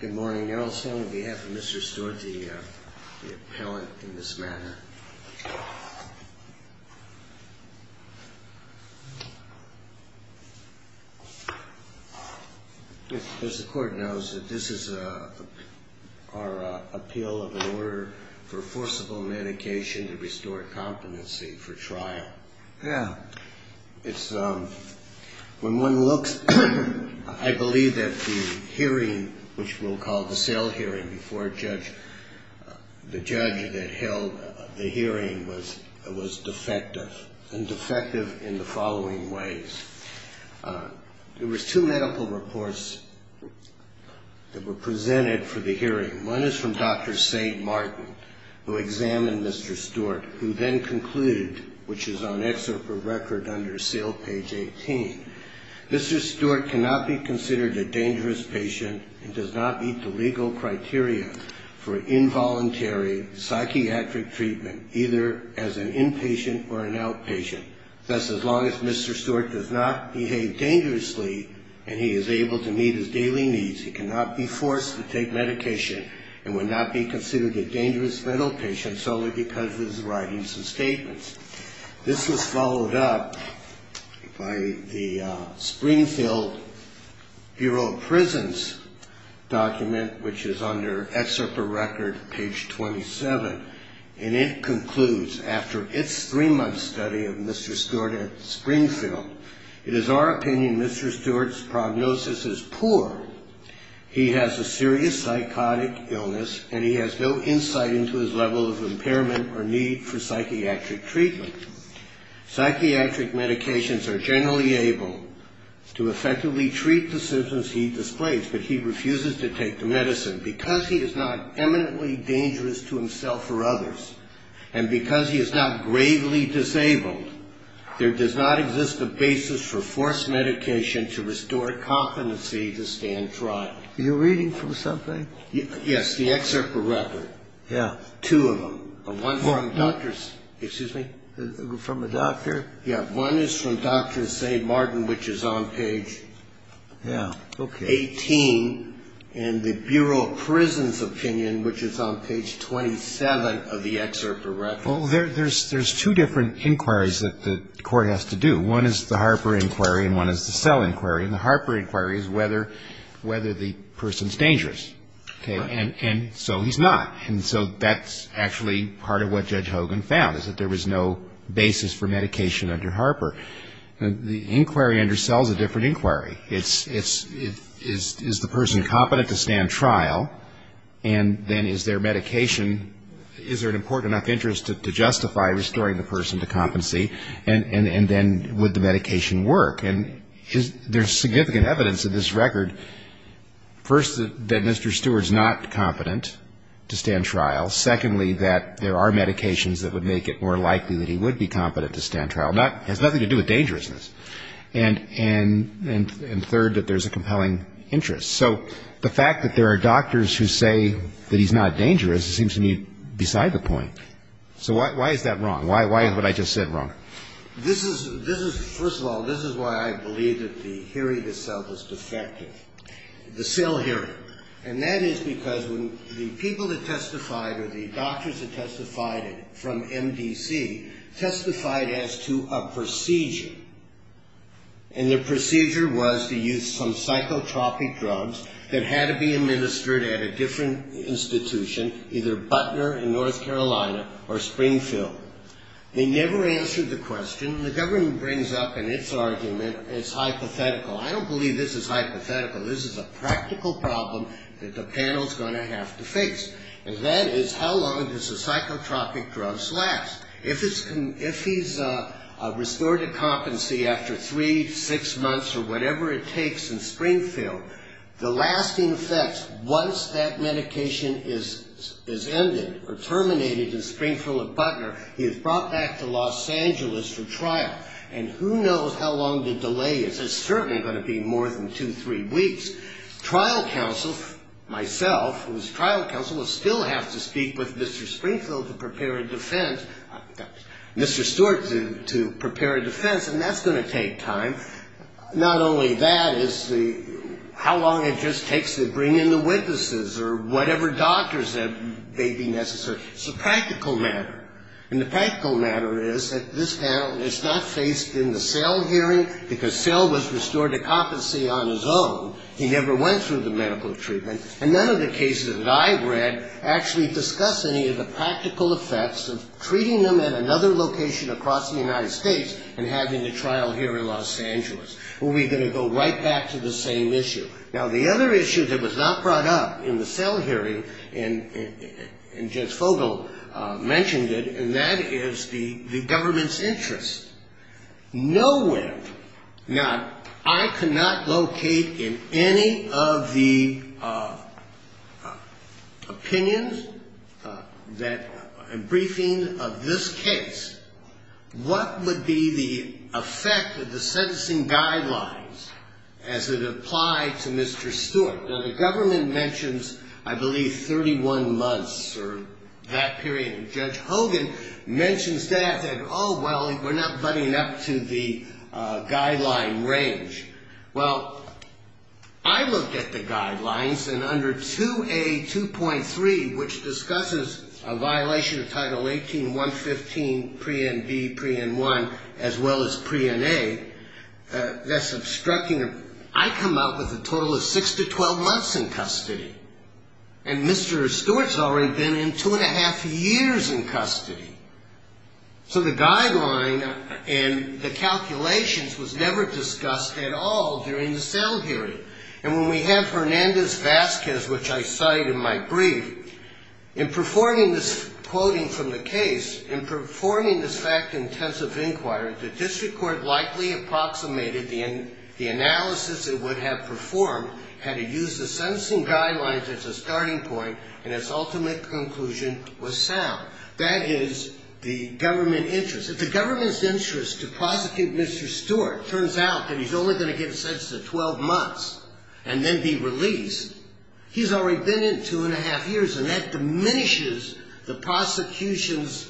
Good morning, Your Honor. On behalf of Mr. Steward, the appellant in this manner. As the court knows, this is our appeal of an order for forcible medication to restore competency for trial. When one looks, I believe that the hearing, which we'll call the cell hearing before the judge that held the hearing, was defective. And defective in the following ways. There were two medical reports that were presented for the hearing. One is from Dr. St. Martin, who examined Mr. Steward, who then concluded, which is on excerpt for record under cell page 18, Mr. Steward cannot be considered a dangerous patient and does not meet the legal criteria for involuntary psychiatric treatment, either as an inpatient or an outpatient. Thus, as long as Mr. Stewart does not behave dangerously and he is able to meet his daily needs, he cannot be forced to take medication and would not be considered a dangerous mental patient solely because of his writings and statements. This was followed up by the Springfield Bureau of Prisons document, which is under excerpt for record, page 27. And it concludes, after its three-month study of Mr. Stewart at Springfield, it is our opinion Mr. Stewart's prognosis is poor. He has a serious psychotic illness and he has no insight into his level of impairment or need for psychiatric treatment. Psychiatric medications are generally able to effectively treat the symptoms he displays, but he refuses to take the medicine because he is not eminently dangerous to himself or others, and because he is not gravely disabled, there does not exist a basis for forced medication to restore competency to stand trial. Are you reading from something? Yes, the excerpt for record. Yeah. Two of them. One from Dr. St. Martin, which is on page 18. And the Bureau of Prisons opinion, which is on page 27 of the excerpt for record. Well, there's two different inquiries that the court has to do. One is the Harper inquiry and one is the Sell inquiry. And the Harper inquiry is whether the person is dangerous. And so he's not. And so that's actually part of what Judge Hogan found, is that there was no basis for medication under Harper. The inquiry under Sell is a different inquiry. It's, is the person competent to stand trial, and then is there medication, is there an important enough interest to justify restoring the person to competency, and then would the medication work? And there's significant evidence in this record, first, that Mr. Stewart's not competent to stand trial. Secondly, that there are medications that would make it more likely that he would be competent to stand trial. It has nothing to do with dangerousness. And, and, and third, that there's a compelling interest. So the fact that there are doctors who say that he's not dangerous seems to me beside the point. So why, why is that wrong? Why, why is what I just said wrong? This is, this is, first of all, this is why I believe that the hearing itself is defective, the Sell hearing. And that is because when the people that testified or the doctors that testified from MDC testified as to a procedure, and the procedure was to use some psychotropic drugs that had to be administered at a different institution, either Butner in North Carolina or Springfield. They never answered the question. The government brings up in its argument, it's hypothetical. I don't believe this is hypothetical. This is a practical problem that the panel's going to have to face. And that is, how long does the psychotropic drugs last? If it's, if he's restored to competency after three, six months or whatever it takes in Springfield, the lasting effects, once that medication is, is ended or terminated in Springfield or Butner, he is brought back to Los Angeles for trial. And who knows how long the delay is. It's certainly going to be more than two, three weeks. Trial counsel, myself, who is trial counsel, will still have to speak with Mr. Springfield to prepare a defense, Mr. Stewart to, to prepare a defense. And that's going to take time. Not only that, it's the, how long it just takes to bring in the witnesses or whatever doctors that may be necessary. It's a practical matter. And the practical matter is that this panel is not faced in the Cell hearing, because Cell was restored to competency on his own. He never went through the medical treatment. And none of the cases that I've read actually discuss any of the practical effects of treating them at another location across the United States and having a trial here in Los Angeles. We're going to go right back to the same issue. Now, the other issue that was not brought up in the Cell hearing, and, and Jens Fogel mentioned it, and that is the, the government's interest. Nowhere, now, I cannot locate in any of the opinions that, a briefing of this case, what would be the effect of the sentencing guidelines as it applied to Mr. Stewart. Now, the government mentions, I believe, 31 months or that period. And Judge Hogan mentions that and, oh, well, we're not butting up to the guideline range. Well, I looked at the guidelines, and under 2A.2.3, which discusses a violation of Title 18.115, Pre-NB, Pre-N1, as well as Pre-NA, that's obstructing, I come out with a total of 6 to 12 months in custody. And Mr. Stewart's already been in two and a half years in custody. So the guideline and the calculations was never discussed at all during the Cell hearing. And when we have Hernandez-Vazquez, which I cite in my brief, in performing this, quoting from the case, in performing this fact-intensive inquiry, the district court likely approximated the analysis it would have performed had it used the sentencing guidelines as a starting point and its ultimate conclusion was sound. That is the government interest. If the government's interest to prosecute Mr. Stewart turns out that he's only going to get a sentence of 12 months and then be released, he's already been in two and a half years, and that diminishes the prosecution's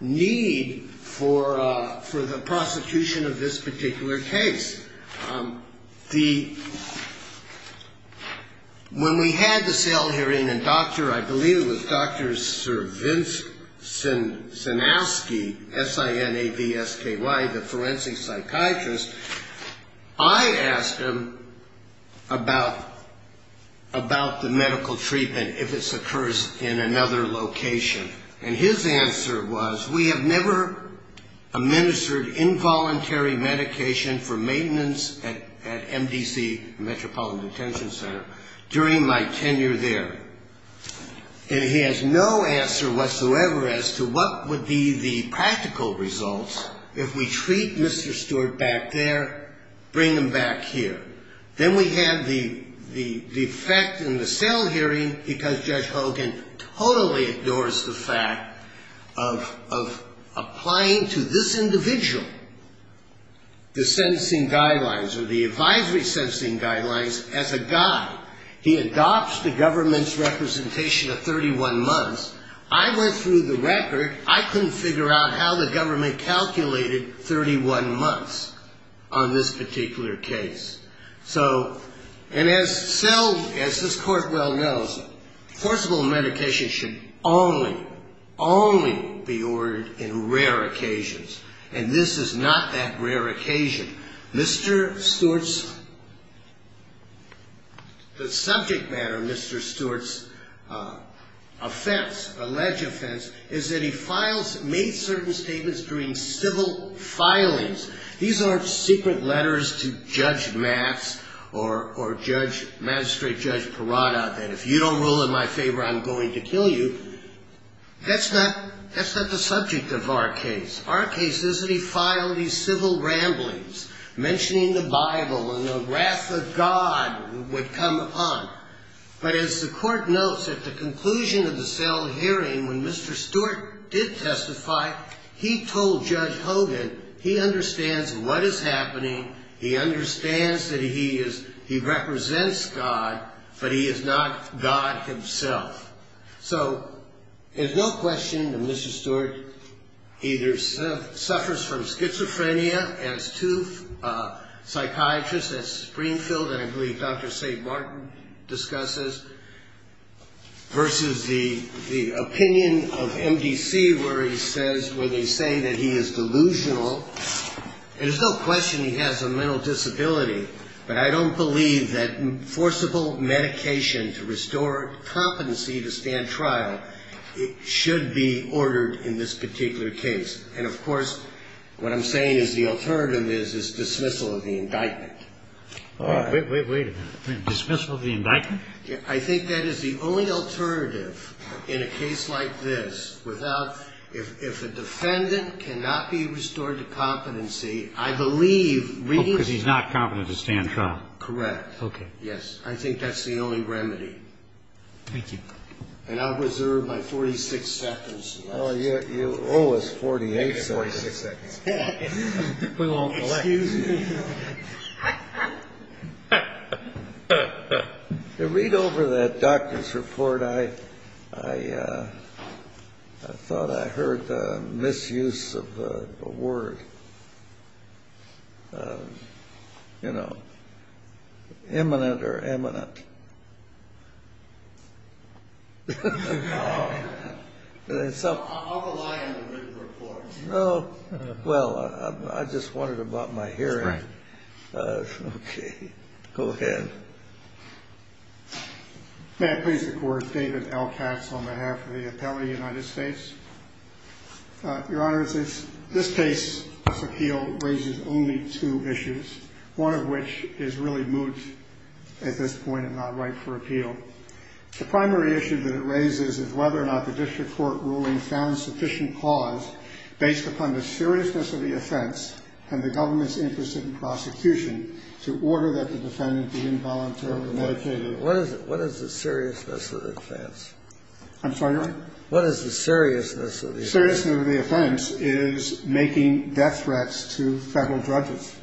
need for the prosecution of this particular case. The, when we had the Cell hearing, and Dr. I believe it was Dr. Sir Vince Sinavsky, S-I-N-A-V-S-K-Y, the forensic psychiatrist, I asked him about the medical treatment if this occurs in another location. And his answer was, we have never administered involuntary medication for maintenance at MDC, Metropolitan Detention Center, during my tenure there. And he has no answer whatsoever as to what would be the practical results if we treat Mr. Stewart back there, bring him back here. Then we have the effect in the Cell hearing, because Judge Hogan totally adores the fact of applying to this individual the sentencing guidelines or the advisory sentencing guidelines as a guide. He adopts the government's representation of 31 months. I went through the record. I couldn't figure out how the government calculated 31 months on this particular case. So, and as Cell, as this Court well knows, forcible medication should only, only be ordered in rare occasions. And this is not that rare occasion. Mr. Stewart's, the subject matter of Mr. Stewart's offense, alleged offense, is that he files, made certain statements during civil filings. These aren't secret letters to Judge Matz or Judge, Magistrate Judge Parada that if you don't rule in my favor, I'm going to kill you. That's not, that's not the subject of our case. Our case is that he filed these civil ramblings, mentioning the Bible and the wrath of God would come upon him. But as the Court notes, at the conclusion of the Cell hearing, when Mr. Stewart did testify, he told Judge Hogan he understands what is happening. He understands that he is, he represents God, but he is not God himself. So, there's no question that Mr. Stewart either suffers from schizophrenia, as two psychiatrists at Springfield, and I believe Dr. St. Martin discusses, versus the, the opinion of MDC where he says, where they say that he is delusional. There's no question he has a mental disability, but I don't believe that forcible medication to restore competency to stand trial, it should be ordered in this particular case. And of course, what I'm saying is the alternative is, is dismissal of the indictment. All right. Wait, wait, wait a minute. Dismissal of the indictment? I think that is the only alternative in a case like this without, if, if a defendant cannot be restored to competency, I believe reading. Oh, because he's not competent to stand trial. Correct. Okay. Yes. I think that's the only remedy. Thank you. And I'll reserve my 46 seconds. Oh, you owe us 48 seconds. We won't collect. Excuse me. To read over that doctor's report, I, I, I thought I heard a misuse of the word. You know, imminent or eminent. I'll rely on the written report. No. Well, I just wondered about my hearing. That's right. Okay. Go ahead. May I please the court, David Elkatz on behalf of the Atelier of the United States. Your Honor, this case, this appeal, raises only two issues, one of which is really moot at this point and not right for appeal. The primary issue that it raises is whether or not the district court ruling found sufficient cause based upon the seriousness of the offense and the government's interest in prosecution to order that the defendant be involuntarily medicated. What is it? What is the seriousness of the offense? I'm sorry, Your Honor? What is the seriousness of the offense? Seriousness of the offense is making death threats to federal judges.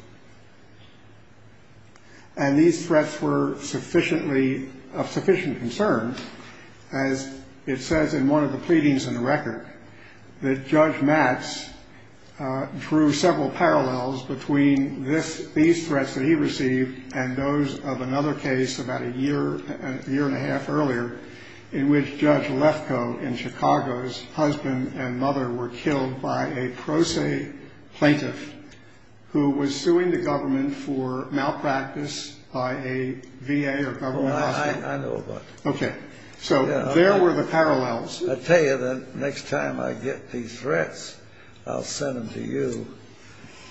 And these threats were sufficiently, of sufficient concern, as it says in one of the pleadings in the record, that Judge Max drew several parallels between this, these threats that he received and those of another case about a year, a year and a half ago in Chicago's husband and mother were killed by a pro se plaintiff who was suing the government for malpractice by a VA or government hospital. I know about that. Okay. So there were the parallels. I tell you, the next time I get these threats, I'll send them to you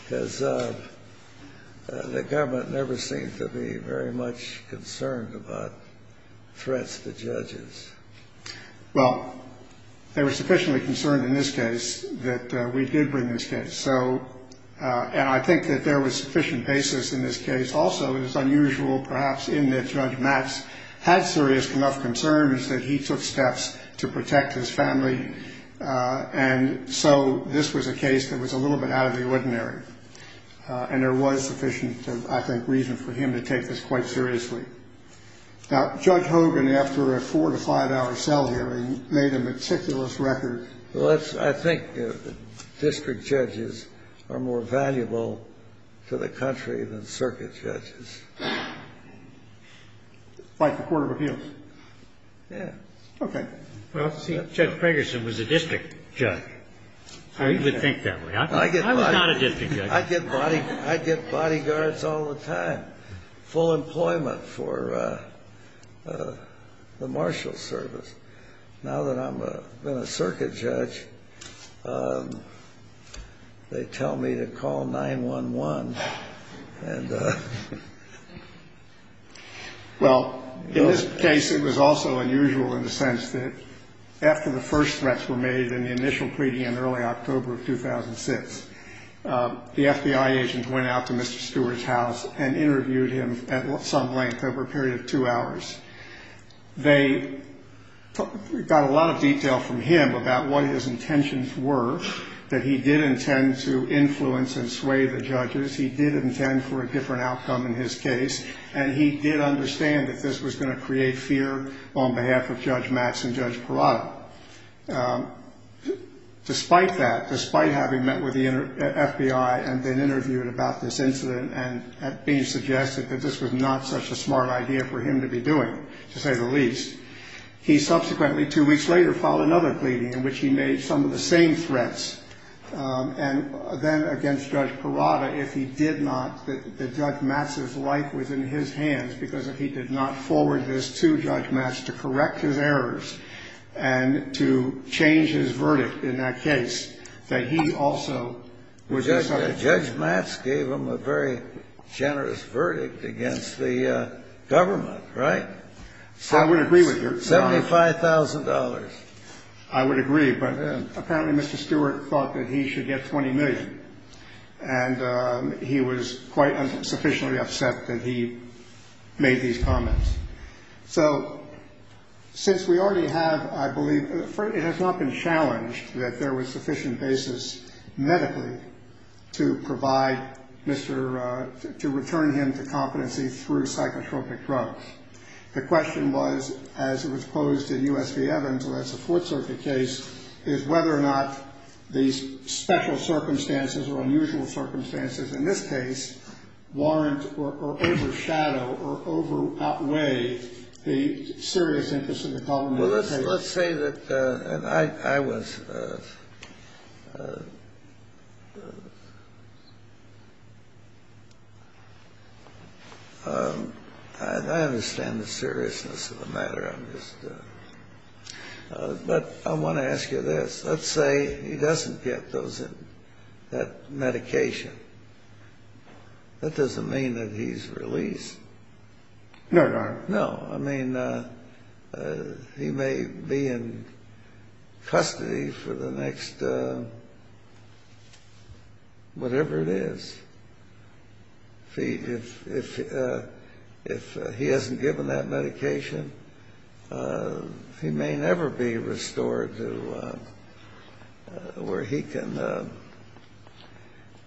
because the government never seemed to be very much concerned about threats to judges. Well, they were sufficiently concerned in this case that we did bring this case. So and I think that there was sufficient basis in this case. Also, it is unusual, perhaps, in that Judge Max had serious enough concerns that he took steps to protect his family. And so this was a case that was a little bit out of the ordinary. And there was sufficient, I think, reason for him to take this quite seriously. Now, Judge Hogan, after a four- to five-hour cell hearing, made a meticulous record. Well, I think district judges are more valuable to the country than circuit judges. Like the Court of Appeals? Yeah. Okay. Well, see, Judge Fragerson was a district judge. He would think that way. I was not a district judge. I get bodyguards all the time. I had full employment for the marshal service. Now that I've been a circuit judge, they tell me to call 911. Well, in this case, it was also unusual in the sense that after the first threats were made in the initial pleading in early October of 2006, the FBI agents went out to Mr. Hogan and interviewed him at some length over a period of two hours. They got a lot of detail from him about what his intentions were, that he did intend to influence and sway the judges, he did intend for a different outcome in his case, and he did understand that this was going to create fear on behalf of Judge Max and Judge Parada. But despite that, despite having met with the FBI and been interviewed about this incident and being suggested that this was not such a smart idea for him to be doing, to say the least, he subsequently, two weeks later, filed another pleading in which he made some of the same threats. And then against Judge Parada, if he did not, that Judge Max's life was in his hands because if he did not then to change his verdict in that case, that he also would decide. Judge Max gave him a very generous verdict against the government, right? I would agree with you. $75,000. I would agree, but apparently Mr. Stewart thought that he should get $20 million, and he was quite sufficiently upset that he made these comments. So since we already have, I believe, it has not been challenged that there was sufficient basis medically to provide Mr., to return him to competency through psychotropic drugs. The question was, as it was posed in U.S. v. Evans, and that's a Fourth Circuit case, is whether or not these special circumstances or unusual circumstances in this case warrant or overshadow or over-outweigh the serious interest of the government. Well, let's say that, and I was, I understand the seriousness of the matter. But I want to ask you this. Let's say he doesn't get those, that medication. That doesn't mean that he's released. No, Your Honor. No. I mean, he may be in custody for the next whatever it is. If he hasn't given that medication, he may never be restored to where he can, you know,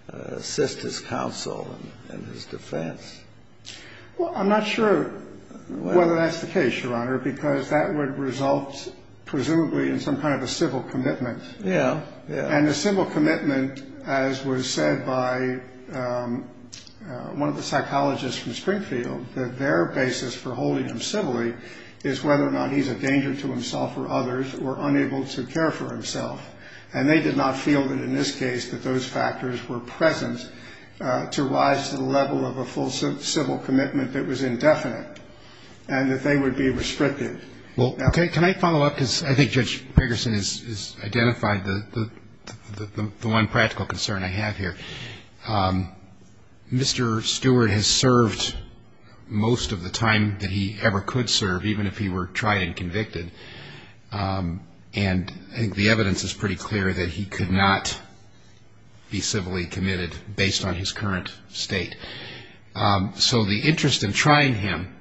assist his counsel in his defense. Well, I'm not sure whether that's the case, Your Honor, because that would result presumably in some kind of a civil commitment. Yeah, yeah. And the civil commitment, as was said by one of the psychologists from Springfield, that their basis for holding him civilly is whether or not he's a danger to himself or others or unable to care for himself. And they did not feel that in this case that those factors were present to rise to the level of a full civil commitment that was indefinite and that they would be restricted. Well, can I follow up? Because I think Judge Gregerson has identified the one practical concern I have here. Mr. Stewart has served most of the time that he ever could serve, even if he were tried and convicted. And I think the evidence is pretty clear that he could not be civilly committed based on his current state. So the interest in trying him,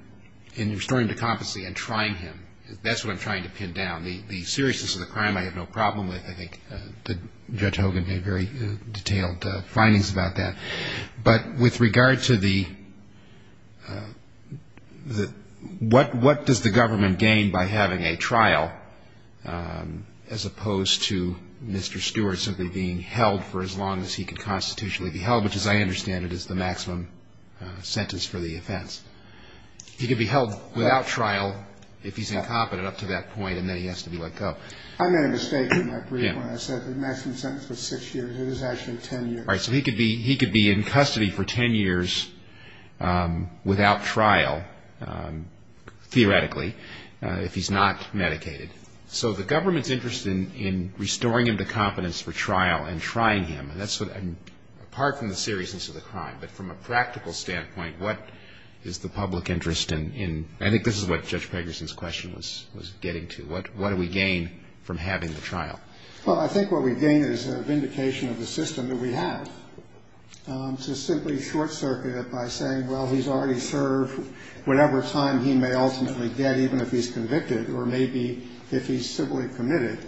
in restoring him to competency and trying him, that's what I'm trying to pin down. The seriousness of the crime I have no problem with. I think Judge Hogan gave very detailed findings about that. But with regard to the what does the government gain by having a trial as opposed to Mr. Stewart simply being held for as long as he could constitutionally be held, which as I understand it is the maximum sentence for the offense. He could be held without trial if he's incompetent up to that point, and then he has to be let go. I made a mistake in my brief when I said the maximum sentence was six years. It is actually ten years. All right. So he could be in custody for ten years without trial, theoretically, if he's not medicated. So the government's interest in restoring him to competence for trial and trying him, and that's what I'm, apart from the seriousness of the crime, but from a practical standpoint, what is the public interest in? I think this is what Judge Gregerson's question was getting to. What do we gain from having the trial? Well, I think what we gain is a vindication of the system that we have. To simply short-circuit it by saying, well, he's already served whatever time he may ultimately get, even if he's convicted, or maybe if he's civilly committed,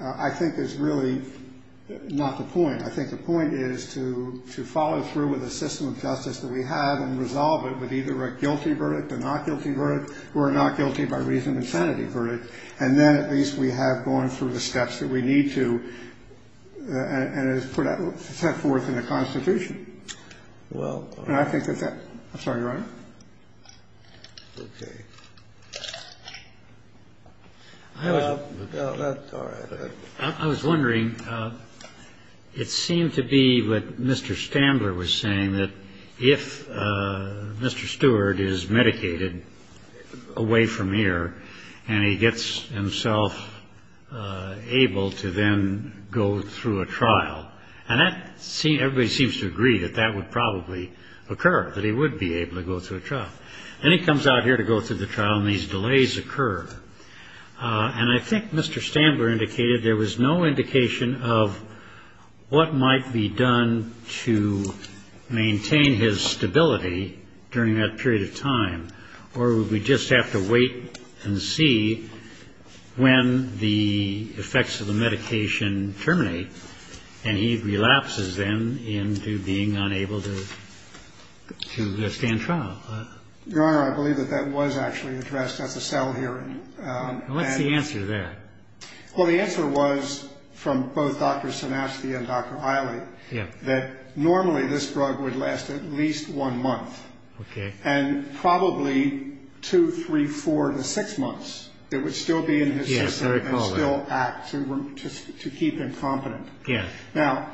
I think is really not the point. I think the point is to follow through with the system of justice that we have and resolve it with either a guilty verdict, a not guilty verdict, or a not guilty by reason of insanity verdict. And then at least we have gone through the steps that we need to, and it's put forth in the Constitution. And I think that that's all right. I was wondering, it seemed to be what Mr. Standler was saying, that if Mr. Stewart is medicated away from here and he gets himself able to then go through a trial. And everybody seems to agree that that would probably occur, that he would be able to go through a trial. And he comes out here to go through the trial, and these delays occur. And I think Mr. Standler indicated there was no indication of what might be done to maintain his stability during that period of time, or would we just have to wait and see when the effects of the medication terminate, and he relapses then into being unable to stand trial. Your Honor, I believe that that was actually addressed at the cell hearing. And what's the answer to that? Well, the answer was from both Dr. Sinasti and Dr. Iley, that normally this drug would last at least one month. And probably two, three, four to six months, it would still be in his system and still act to keep him competent. Now,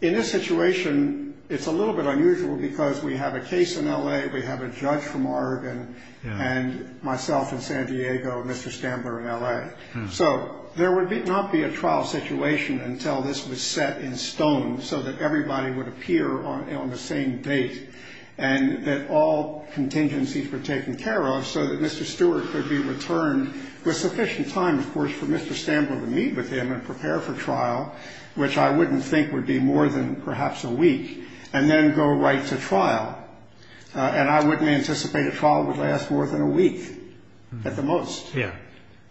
in this situation, it's a little bit unusual because we have a case in L.A., we have a judge from Oregon, and myself in San Diego, Mr. Standler in L.A. So there would not be a trial situation until this was set in stone so that everybody would appear on the same date, and that all contingencies were taken care of so that Mr. Stewart could be returned with sufficient time, of course, for Mr. Standler to meet with him and prepare for trial, which I wouldn't think would be more than perhaps a week, and then go right to trial. And I wouldn't anticipate a trial would last more than a week at the most.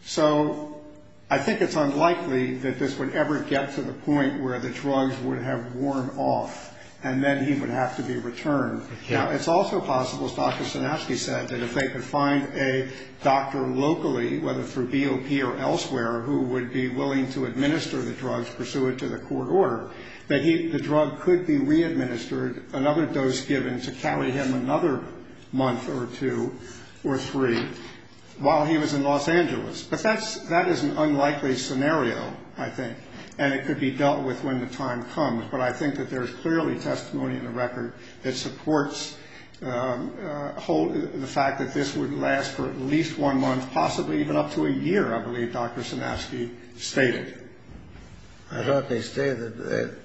So I think it's unlikely that this would ever get to the point where the drugs would have worn off, and then he would have to be returned. Now, it's also possible, as Dr. Sinasky said, that if they could find a doctor locally, whether through BOP or elsewhere, who would be willing to administer the drugs pursuant to the court order, that the drug could be readministered, another dose given to carry him another month or two or three while he was in Los Angeles. But that is an unlikely scenario, I think, and it could be dealt with when the time comes. But I think that there's clearly testimony in the record that supports the fact that this would last for at least one month, possibly even up to a year, I believe Dr. Sinasky stated. I thought they stated that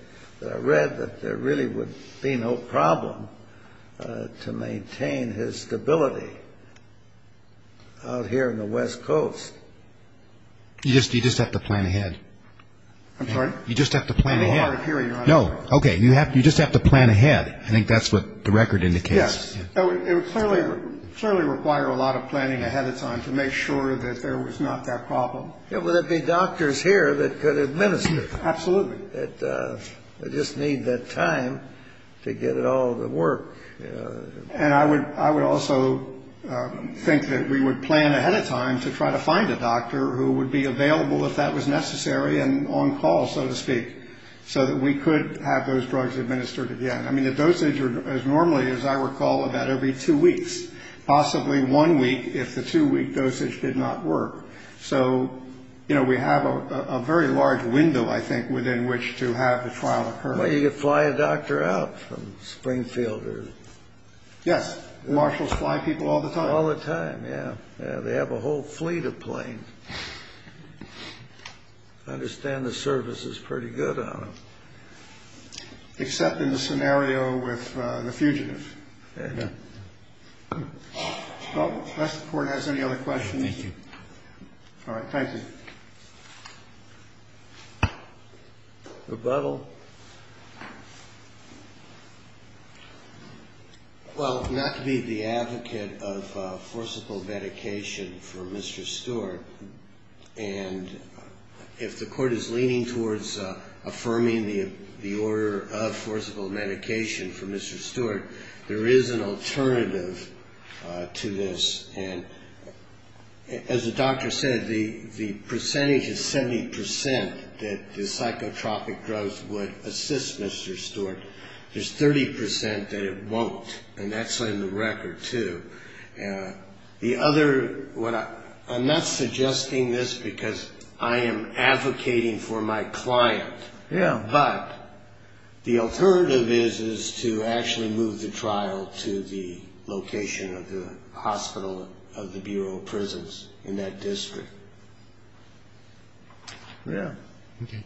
I read that there really would be no problem to maintain his stability out here on the West Coast. You just have to plan ahead. I'm sorry? You just have to plan ahead. No, okay. You just have to plan ahead. I think that's what the record indicates. Yes. It would clearly require a lot of planning ahead of time to make sure that there was not that problem. Yeah, well, there'd be doctors here that could administer. Absolutely. They just need that time to get it all to work. And I would also think that we would plan ahead of time to try to find a doctor who would be available if that was necessary and on call, so to speak, so that we could have those drugs administered again. I mean, the dosage is normally, as I recall, about every two weeks, possibly one week if the two-week dosage did not work. So, you know, we have a very large window, I think, within which to have the trial occur. Well, you could fly a doctor out from Springfield. Yes. Marshals fly people all the time. All the time, yeah. They have a whole fleet of planes. I understand the service is pretty good on them. Except in the scenario with the fugitives. Yeah. Unless the court has any other questions. Thank you. All right, thank you. Rebuttal. Well, not to be the advocate of forcible medication for Mr. Stewart, and if the court is leaning towards affirming the order of forcible medication for Mr. Stewart, there is an alternative to this. And as the doctor said, the percentage is 70% that the psychotropic drugs would assist Mr. Stewart. There's 30% that it won't, and that's in the record, too. The other, I'm not suggesting this because I am advocating for my client. Yeah. But the alternative is to actually move the trial to the location of the hospital of the Bureau of Prisons in that district. Yeah. Okay.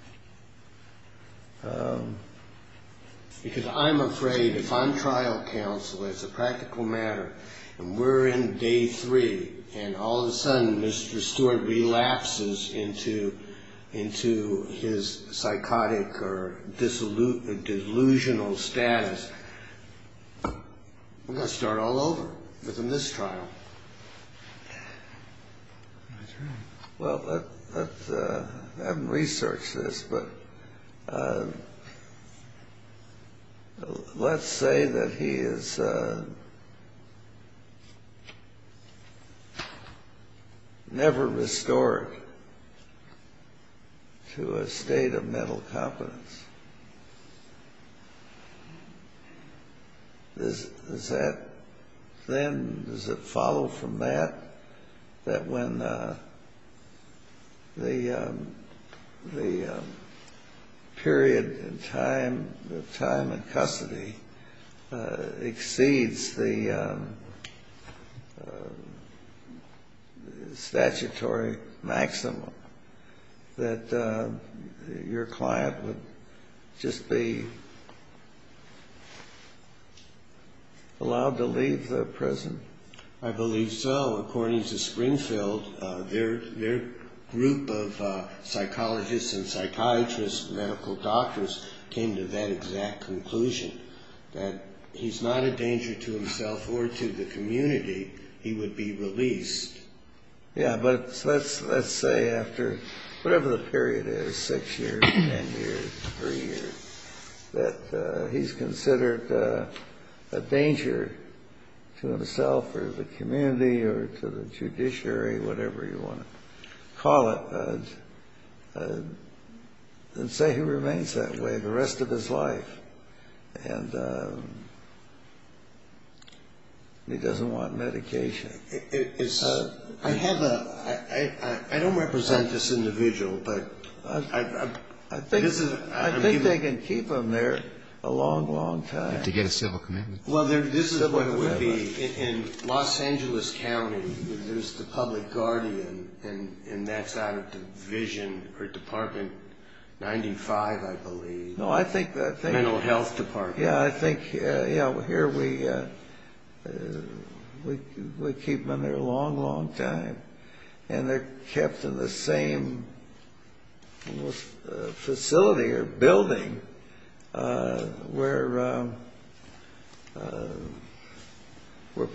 delusional status. We're going to start all over within this trial. Well, I haven't researched this, but let's say that he is never restored to a state of mental competence. Does that then, does it follow from that, that when the period in time, the time in custody exceeds the statutory maximum, that your client would just be allowed to leave the prison? I believe so. According to Springfield, their group of psychologists and psychiatrists, medical doctors, came to that exact conclusion, that he's not a danger to himself or to the community, he would be released. Yeah, but let's say after whatever the period is, six years, 10 years, three years, that he's considered a danger to himself or the community or to the judiciary, whatever you want to call it, and say he remains that way the rest of his life, and he doesn't want medication. I have a, I don't represent this individual, but this is. I think they can keep him there a long, long time. To get a civil commitment. Well, this is what it would be in Los Angeles County. There's the public guardian, and that's out of Division or Department 95, I believe. No, I think. Mental health department. Yeah, I think here we keep them in there a long, long time, and they're kept in the same facility or building where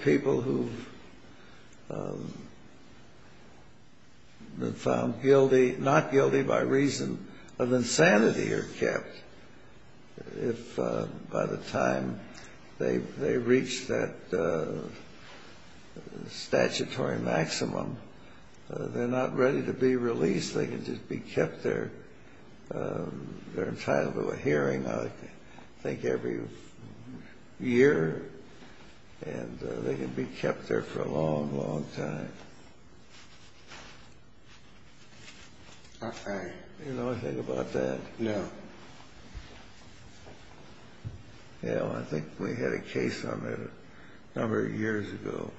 people who have been found guilty, not guilty by reason of insanity are kept. If by the time they reach that statutory maximum, they're not ready to be released. They can just be kept there. They're entitled to a hearing, I think, every year, and they can be kept there for a long, long time. You know anything about that? No. Yeah, well, I think we had a case on that a number of years ago.